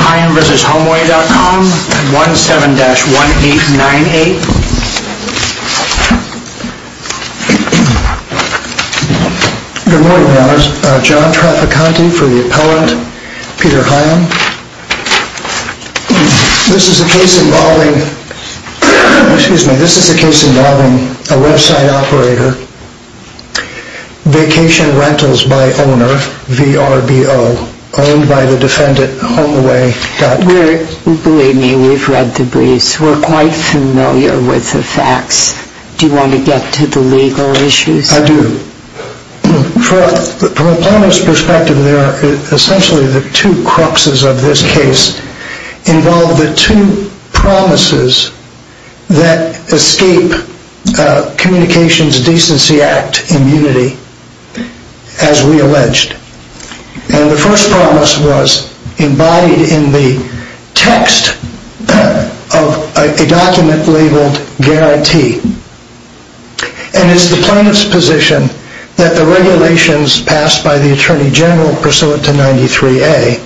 Hiam v. Homeaway.com, 17-1898. Good morning, Your Honors. John Traficante for the appellant, Peter Hiam. This is a case involving a website operator, Vacation Rentals by Owner, VRBO, owned by the defendant, Homeaway.com. Believe me, we've read the briefs. We're quite familiar with the facts. Do you want to get to the legal issues? I do. From a plaintiff's perspective, essentially the two cruxes of this case involve the two promises that escape Communications Decency Act immunity, as we alleged. And the first promise was embodied in the text of a document labeled guarantee. And it's the plaintiff's position that the regulations passed by the Attorney General, pursuant to 93A,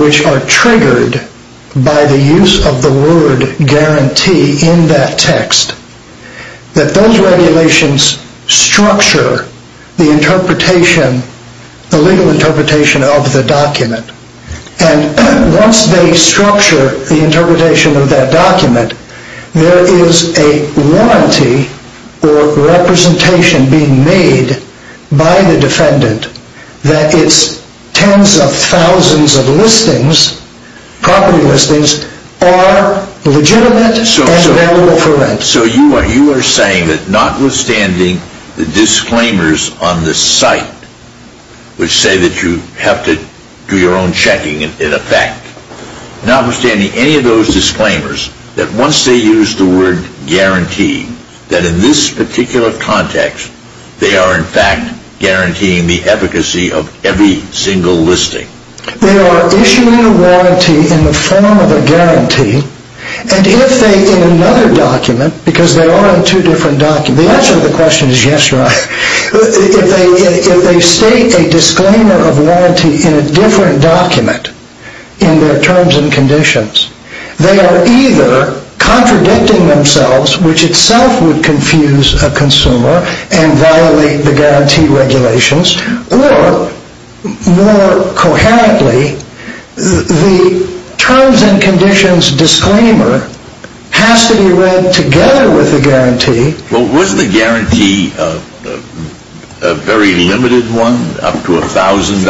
which are triggered by the use of the word guarantee in that text, that those regulations structure the legal interpretation of the document. And once they structure the interpretation of that document, there is a warranty or representation being made by the defendant that its tens of thousands of listings, property listings, are legitimate and available for rent. So you are saying that notwithstanding the disclaimers on the site, which say that you have to do your own checking in effect, notwithstanding any of those disclaimers, that once they use the word guarantee, that in this particular context, they are in fact guaranteeing the efficacy of every single listing? They are issuing a warranty in the form of a guarantee. And if they, in another document, because they are on two different documents, the answer to the question is yes or no. If they state a disclaimer of warranty in a different document in their terms and conditions, they are either contradicting themselves, which itself would confuse a consumer and violate the guarantee regulations, or more coherently, the terms and conditions disclaimer has to be read together with the guarantee. Well, was the guarantee a very limited one, up to $1,000?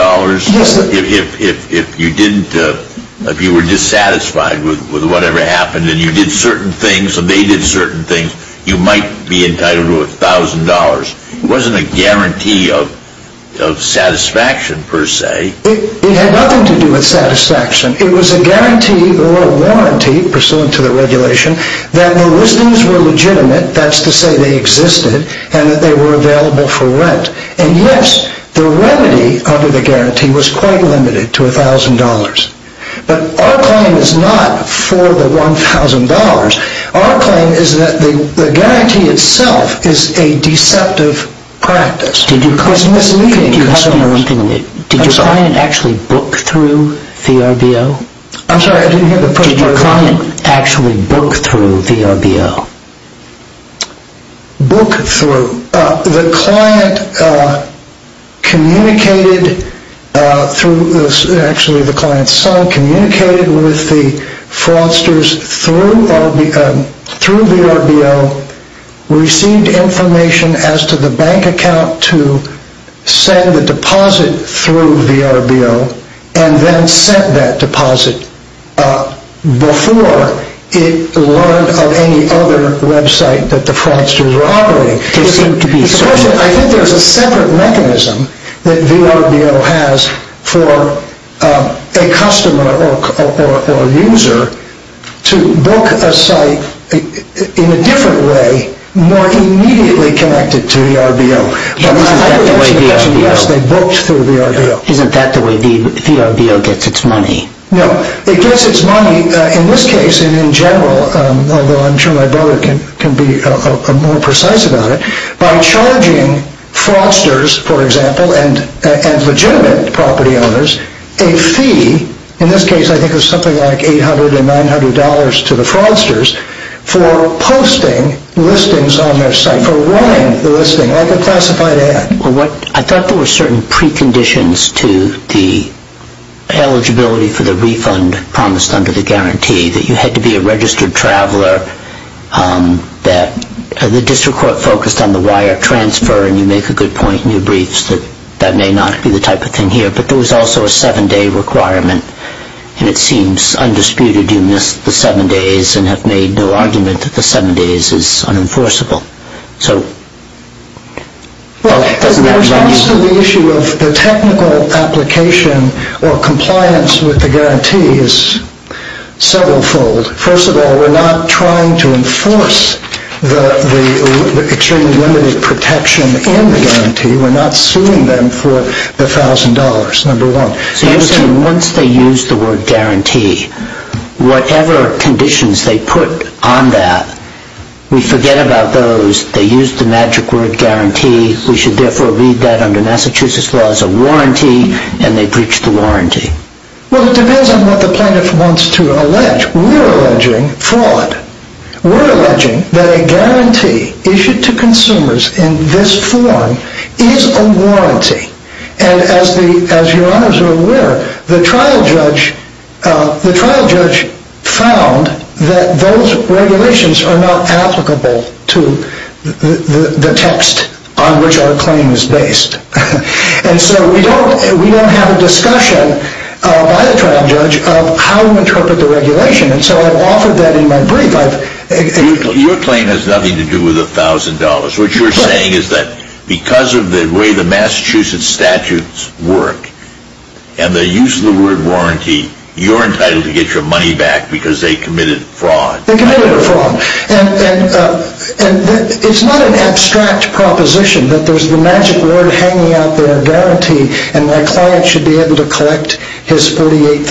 If you were dissatisfied with whatever happened and you did certain things, and they did certain things, you might be entitled to $1,000. It wasn't a guarantee of satisfaction, per se. It had nothing to do with satisfaction. It was a guarantee or a warranty, pursuant to the regulation, that the listings were legitimate, that's to say they existed, and that they were available for rent. And yes, the remedy under the guarantee was quite limited to $1,000. But our claim is not for the $1,000. Our claim is that the guarantee itself is a deceptive practice. It's misleading consumers. Did your client actually book through VRBO? I'm sorry, I didn't hear the question. Did your client actually book through VRBO? Book through. The client communicated through, actually the client's son, communicated with the fraudsters through VRBO, received information as to the bank account to send the deposit through VRBO, and then sent that deposit before it learned of any other website that the fraudsters were operating. I think there's a separate mechanism that VRBO has for a customer or user to book a site in a different way, more immediately connected to VRBO. Yes, they booked through VRBO. Isn't that the way VRBO gets its money? No, it gets its money, in this case and in general, although I'm sure my brother can be more precise about it, by charging fraudsters, for example, and legitimate property owners, a fee, in this case I think it was something like $800 and $900 to the fraudsters, for posting listings on their site, for running the listing. I thought there were certain preconditions to the eligibility for the refund promised under the guarantee, that you had to be a registered traveler, that the district court focused on the wire transfer, and you make a good point in your briefs that that may not be the type of thing here, but there was also a seven-day requirement, and it seems undisputed you missed the seven days and have made no argument that the seven days is unenforceable. Well, there's also the issue of the technical application or compliance with the guarantee is several fold. First of all, we're not trying to enforce the extremely limited protection in the guarantee. We're not suing them for the $1,000, number one. So you're saying once they use the word guarantee, whatever conditions they put on that, we forget about those. They use the magic word guarantee. We should therefore read that under Massachusetts law as a warranty, and they breach the warranty. Well, it depends on what the plaintiff wants to allege. We're alleging fraud. We're alleging that a guarantee issued to consumers in this form is a warranty, and as your honors are aware, the trial judge found that those regulations are not applicable to the text on which our claim is based, and so we don't have a discussion by the trial judge of how to interpret the regulation, and so I've offered that in my brief. Your claim has nothing to do with $1,000. What you're saying is that because of the way the Massachusetts statutes work and the use of the word warranty, you're entitled to get your money back because they committed fraud. They committed a fraud, and it's not an abstract proposition that there's the magic word hanging out there, guarantee, and my client should be able to collect his $48,000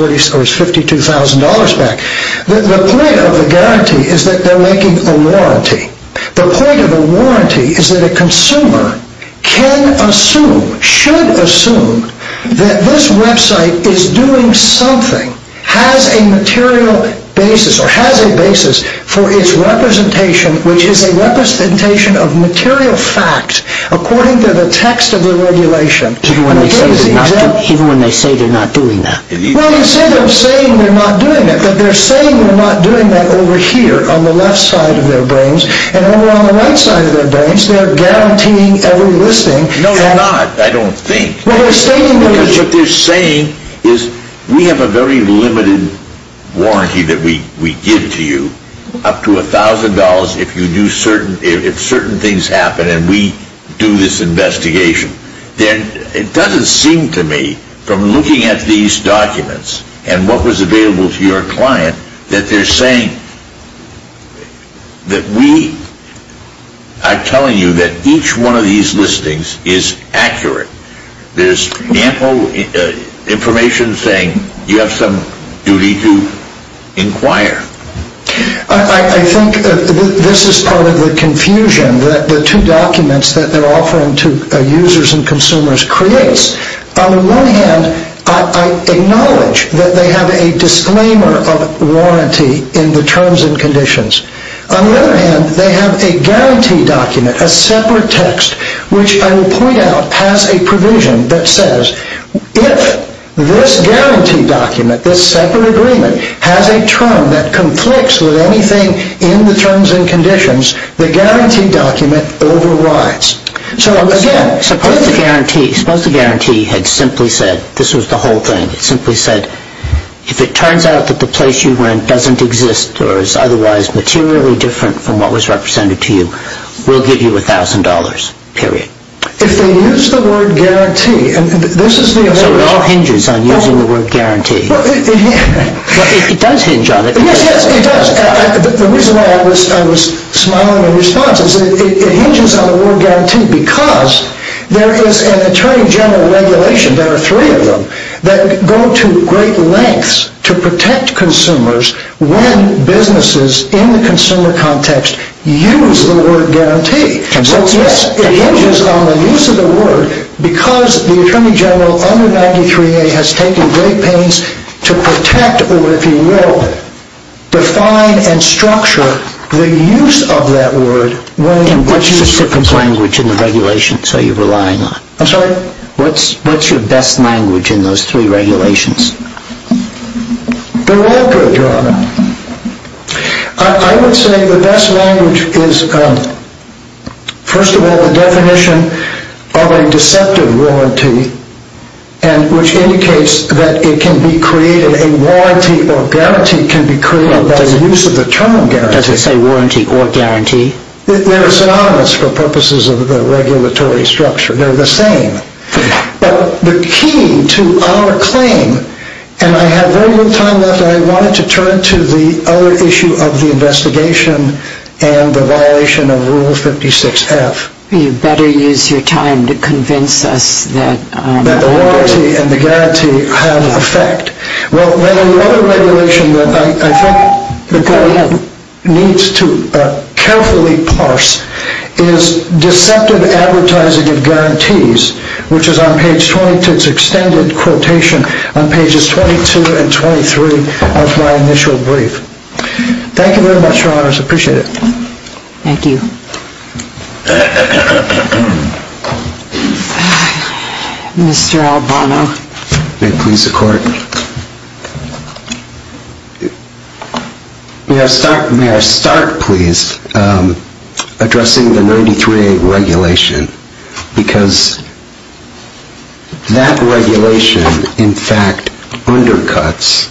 or his $52,000 back. The point of the guarantee is that they're making a warranty. The point of the warranty is that a consumer can assume, should assume, that this website is doing something, has a material basis, or has a basis for its representation, which is a representation of material fact according to the text of the regulation. Even when they say they're not doing that? Well, instead of saying they're not doing that, they're saying they're not doing that over here on the left side of their brains, and over on the right side of their brains, they're guaranteeing every listing. No, they're not. I don't think. What they're saying is we have a very limited warranty that we give to you, up to $1,000, if certain things happen and we do this investigation. It doesn't seem to me, from looking at these documents and what was available to your client, that they're saying that we are telling you that each one of these listings is accurate. There's ample information saying you have some duty to inquire. I think this is part of the confusion that the two documents that they're offering to users and consumers creates. On the one hand, I acknowledge that they have a disclaimer of warranty in the terms and conditions. On the other hand, they have a guarantee document, a separate text, which I will point out has a provision that says, if this guarantee document, this separate agreement, has a term that conflicts with anything in the terms and conditions, the guarantee document overrides. Again, suppose the guarantee had simply said, this was the whole thing, it simply said, if it turns out that the place you rent doesn't exist or is otherwise materially different from what was represented to you, we'll give you $1,000, period. If they use the word guarantee... So it all hinges on using the word guarantee. It does hinge on it. Yes, yes, it does. The reason why I was smiling in response is it hinges on the word guarantee because there is an attorney general regulation, there are three of them, that go to great lengths to protect consumers when businesses in the consumer context use the word guarantee. So yes, it hinges on the use of the word because the attorney general under 93A has taken great pains to protect or, if you will, define and structure the use of that word. And what specific language in the regulations are you relying on? I'm sorry? What's your best language in those three regulations? They're all good, Your Honor. I would say the best language is, first of all, the definition of a deceptive warranty, which indicates that it can be created, a warranty or guarantee can be created by the use of the term guarantee. Does it say warranty or guarantee? They're synonymous for purposes of the regulatory structure. They're the same. The key to our claim, and I have very little time left, I wanted to turn to the other issue of the investigation and the violation of Rule 56F. You better use your time to convince us that the warranty and the guarantee have effect. Well, the other regulation that I think the court needs to carefully parse is deceptive advertising of guarantees, which is on page 22, it's extended quotation on pages 22 and 23 of my initial brief. Thank you very much, Your Honors. I appreciate it. Thank you. Mr. Albano. May it please the Court. May I start, please, addressing the 93A regulation, because that regulation, in fact, undercuts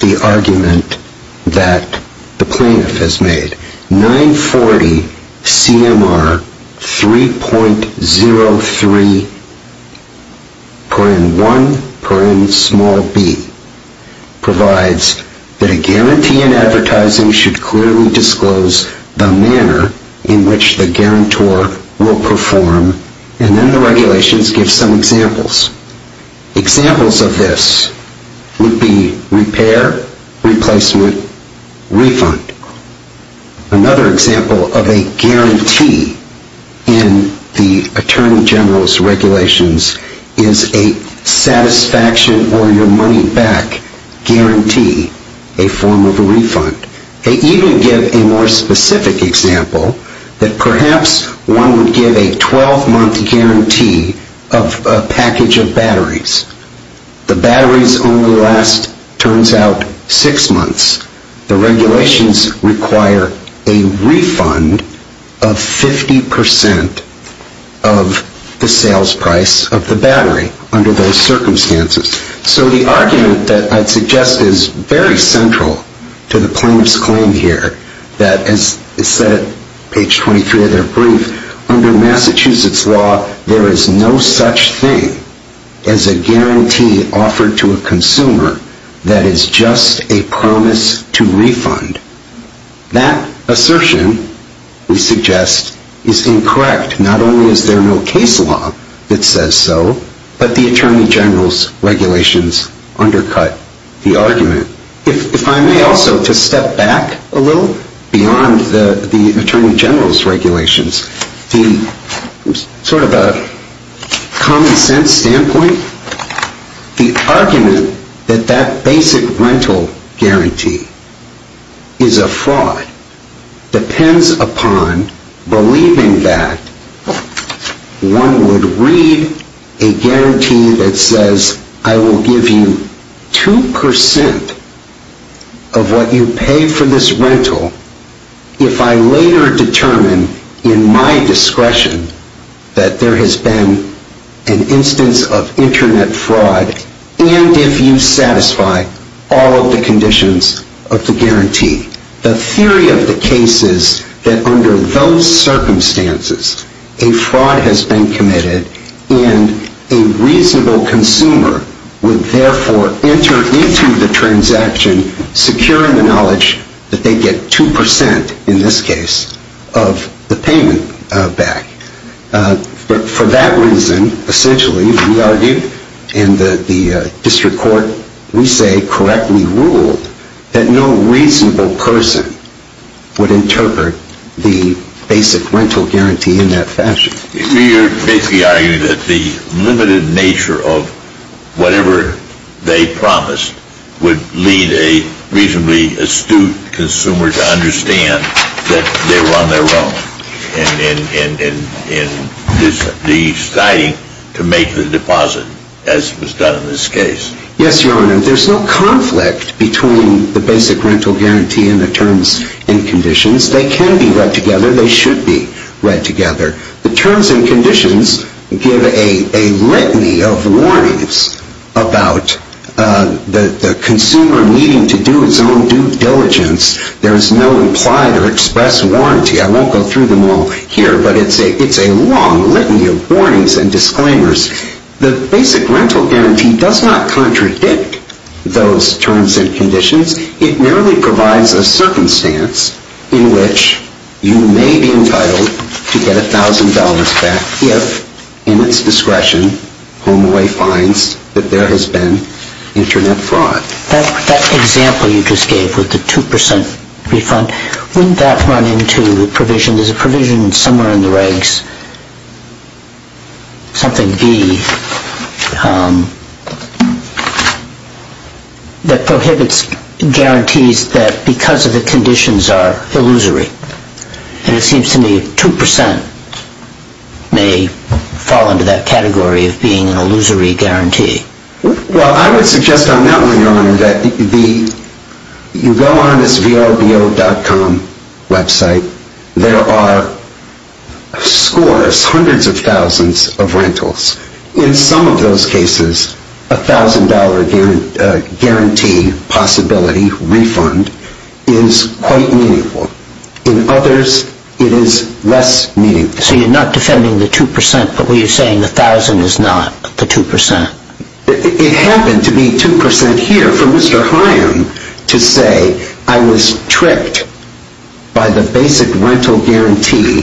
the argument that the plaintiff has made. 940 C.M.R. 3.03.1.b provides that a guarantee in advertising should clearly disclose the manner in which the guarantor will perform, and then the regulations give some examples. Examples of this would be repair, replacement, refund. Another example of a guarantee in the Attorney General's regulations is a satisfaction or your money back guarantee, a form of a refund. They even give a more specific example, that perhaps one would give a 12-month guarantee of a package of batteries. The batteries only last, it turns out, six months. The regulations require a refund of 50% of the sales price of the battery under those circumstances. So the argument that I'd suggest is very central to the plaintiff's claim here, that, as is said at page 23 of their brief, under Massachusetts law there is no such thing as a guarantee offered to a consumer that is just a promise to refund. That assertion, we suggest, is incorrect. Not only is there no case law that says so, but the Attorney General's regulations undercut the argument. If I may also just step back a little beyond the Attorney General's regulations, from sort of a common sense standpoint, the argument that that basic rental guarantee is a fraud depends upon believing that one would read a guarantee that says I will give you 2% of what you pay for this rental if I later determine in my discretion that there has been an instance of Internet fraud and if you satisfy all of the conditions of the guarantee. The theory of the case is that under those circumstances a fraud has been committed and a reasonable consumer would therefore enter into the transaction securing the knowledge that they get 2%, in this case, of the payment back. For that reason, essentially, we argue, and the district court, we say, that no reasonable person would interpret the basic rental guarantee in that fashion. You're basically arguing that the limited nature of whatever they promised would lead a reasonably astute consumer to understand that they were on their own in deciding to make the deposit, as was done in this case. Yes, Your Honor, there's no conflict between the basic rental guarantee and the terms and conditions. They can be read together, they should be read together. The terms and conditions give a litany of warnings about the consumer needing to do his own due diligence. There is no implied or expressed warranty. I won't go through them all here, but it's a long litany of warnings and disclaimers. The basic rental guarantee does not contradict those terms and conditions. It merely provides a circumstance in which you may be entitled to get $1,000 back if, in its discretion, HomeAway finds that there has been Internet fraud. That example you just gave with the 2% refund, wouldn't that run into the provision, somewhere in the regs, something B, that prohibits guarantees that because of the conditions are illusory? And it seems to me 2% may fall into that category of being an illusory guarantee. Well, I would suggest on that one, Your Honor, that you go on this vobo.com website. There are scores, hundreds of thousands of rentals. In some of those cases, a $1,000 guarantee possibility refund is quite meaningful. In others, it is less meaningful. So you're not defending the 2%, but you're saying the 1,000 is not the 2%? It happened to be 2% here for Mr. Haim to say, I was tricked by the basic rental guarantee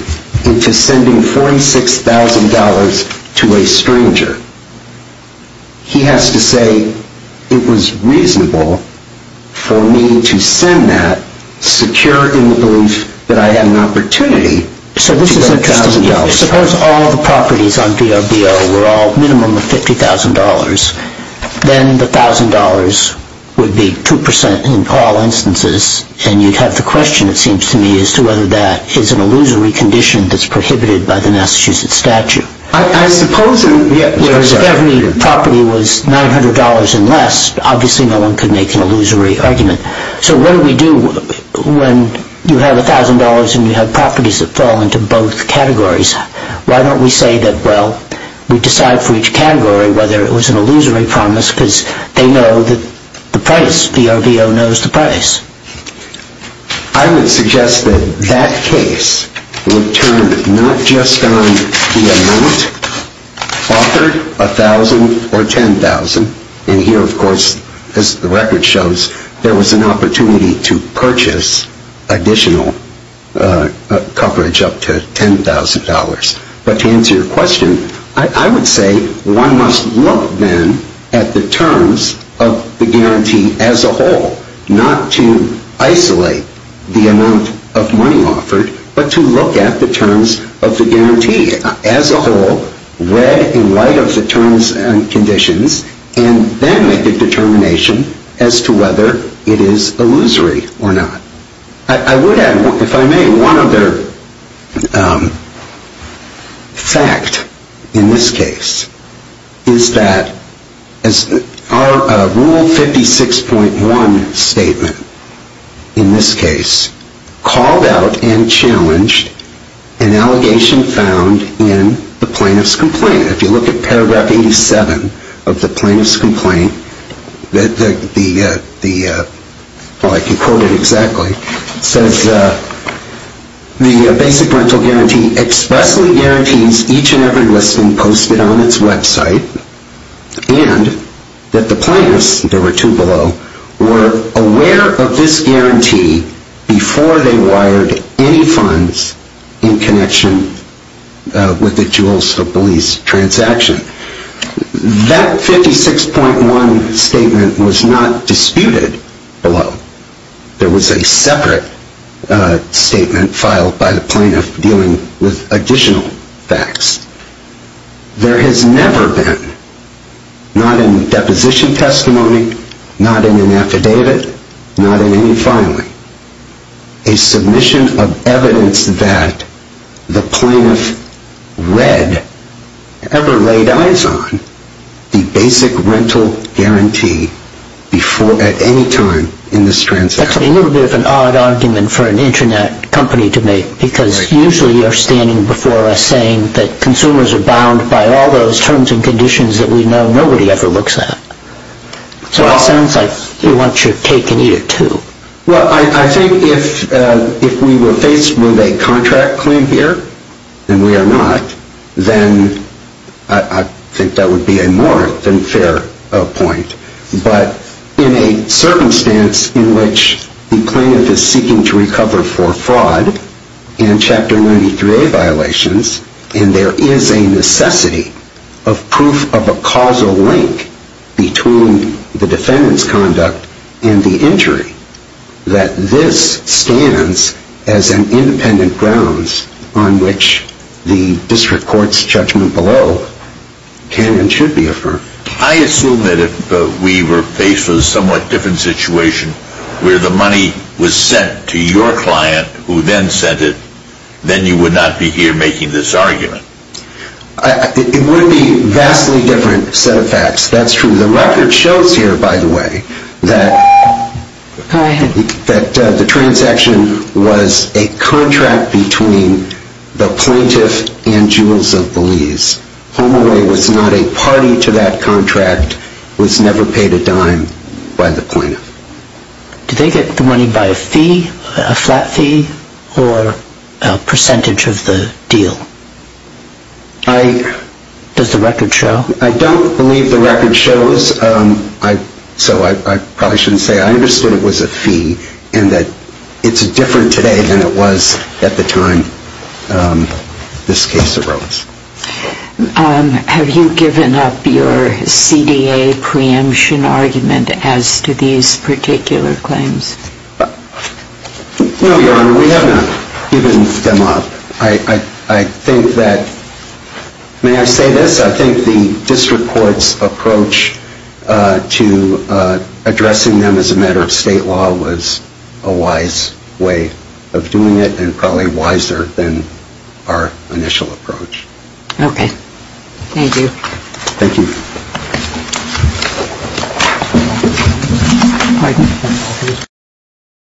into sending $46,000 to a stranger. He has to say, it was reasonable for me to send that, secure in the belief that I had an opportunity to get $1,000. Suppose all the properties on VRBO were all minimum of $50,000. Then the $1,000 would be 2% in all instances, and you'd have the question, it seems to me, as to whether that is an illusory condition that's prohibited by the Massachusetts statute. I suppose it is. Whereas if every property was $900 and less, obviously no one could make an illusory argument. So what do we do when you have $1,000 and you have properties that fall into both categories? Why don't we say that, well, we decide for each category whether it was an illusory promise, because they know that the price, VRBO knows the price. I would suggest that that case would turn not just on the amount offered, whether $1,000 or $10,000, and here, of course, as the record shows, there was an opportunity to purchase additional coverage up to $10,000. But to answer your question, I would say one must look then at the terms of the guarantee as a whole, not to isolate the amount of money offered, but to look at the terms of the guarantee as a whole, read in light of the terms and conditions, and then make a determination as to whether it is illusory or not. I would add, if I may, one other fact in this case is that our Rule 56.1 statement in this case called out and challenged an allegation found in the plaintiff's complaint. If you look at paragraph 87 of the plaintiff's complaint, well, I can quote it exactly. It says, the basic rental guarantee expressly guarantees each and every listing posted on its website and that the plaintiffs, there were two below, were aware of this guarantee before they wired any funds in connection with the jewels of Belize transaction. That 56.1 statement was not disputed below. There was a separate statement filed by the plaintiff dealing with additional facts. There has never been, not in deposition testimony, not in an affidavit, not in any filing, a submission of evidence that the plaintiff read, ever laid eyes on, the basic rental guarantee at any time in this transaction. That's a little bit of an odd argument for an internet company to make because usually you're standing before us saying that consumers are bound by all those terms and conditions that we know nobody ever looks at. So it sounds like you want your cake and eat it too. Well, I think if we were faced with a contract claim here, and we are not, then I think that would be a more than fair point. But in a circumstance in which the plaintiff is seeking to recover for fraud and Chapter 93A violations, and there is a necessity of proof of a causal link between the defendant's conduct and the injury, that this stands as an independent grounds on which the district court's judgment below can and should be affirmed. I assume that if we were faced with a somewhat different situation where the money was sent to your client who then sent it, then you would not be here making this argument. It would be a vastly different set of facts. That's true. The record shows here, by the way, that the transaction was a contract between the plaintiff and Jules of Belize. HomeAway was not a party to that contract, was never paid a dime by the plaintiff. Did they get the money by a fee, a flat fee, or a percentage of the deal? Does the record show? I don't believe the record shows, so I probably shouldn't say. I understood it was a fee and that it's different today than it was at the time this case arose. Have you given up your CDA preemption argument as to these particular claims? No, Your Honor, we have not given them up. I think that, may I say this? I think the district court's approach to addressing them as a matter of state law was a wise way of doing it and probably wiser than our initial approach. Okay. Thank you. Thank you.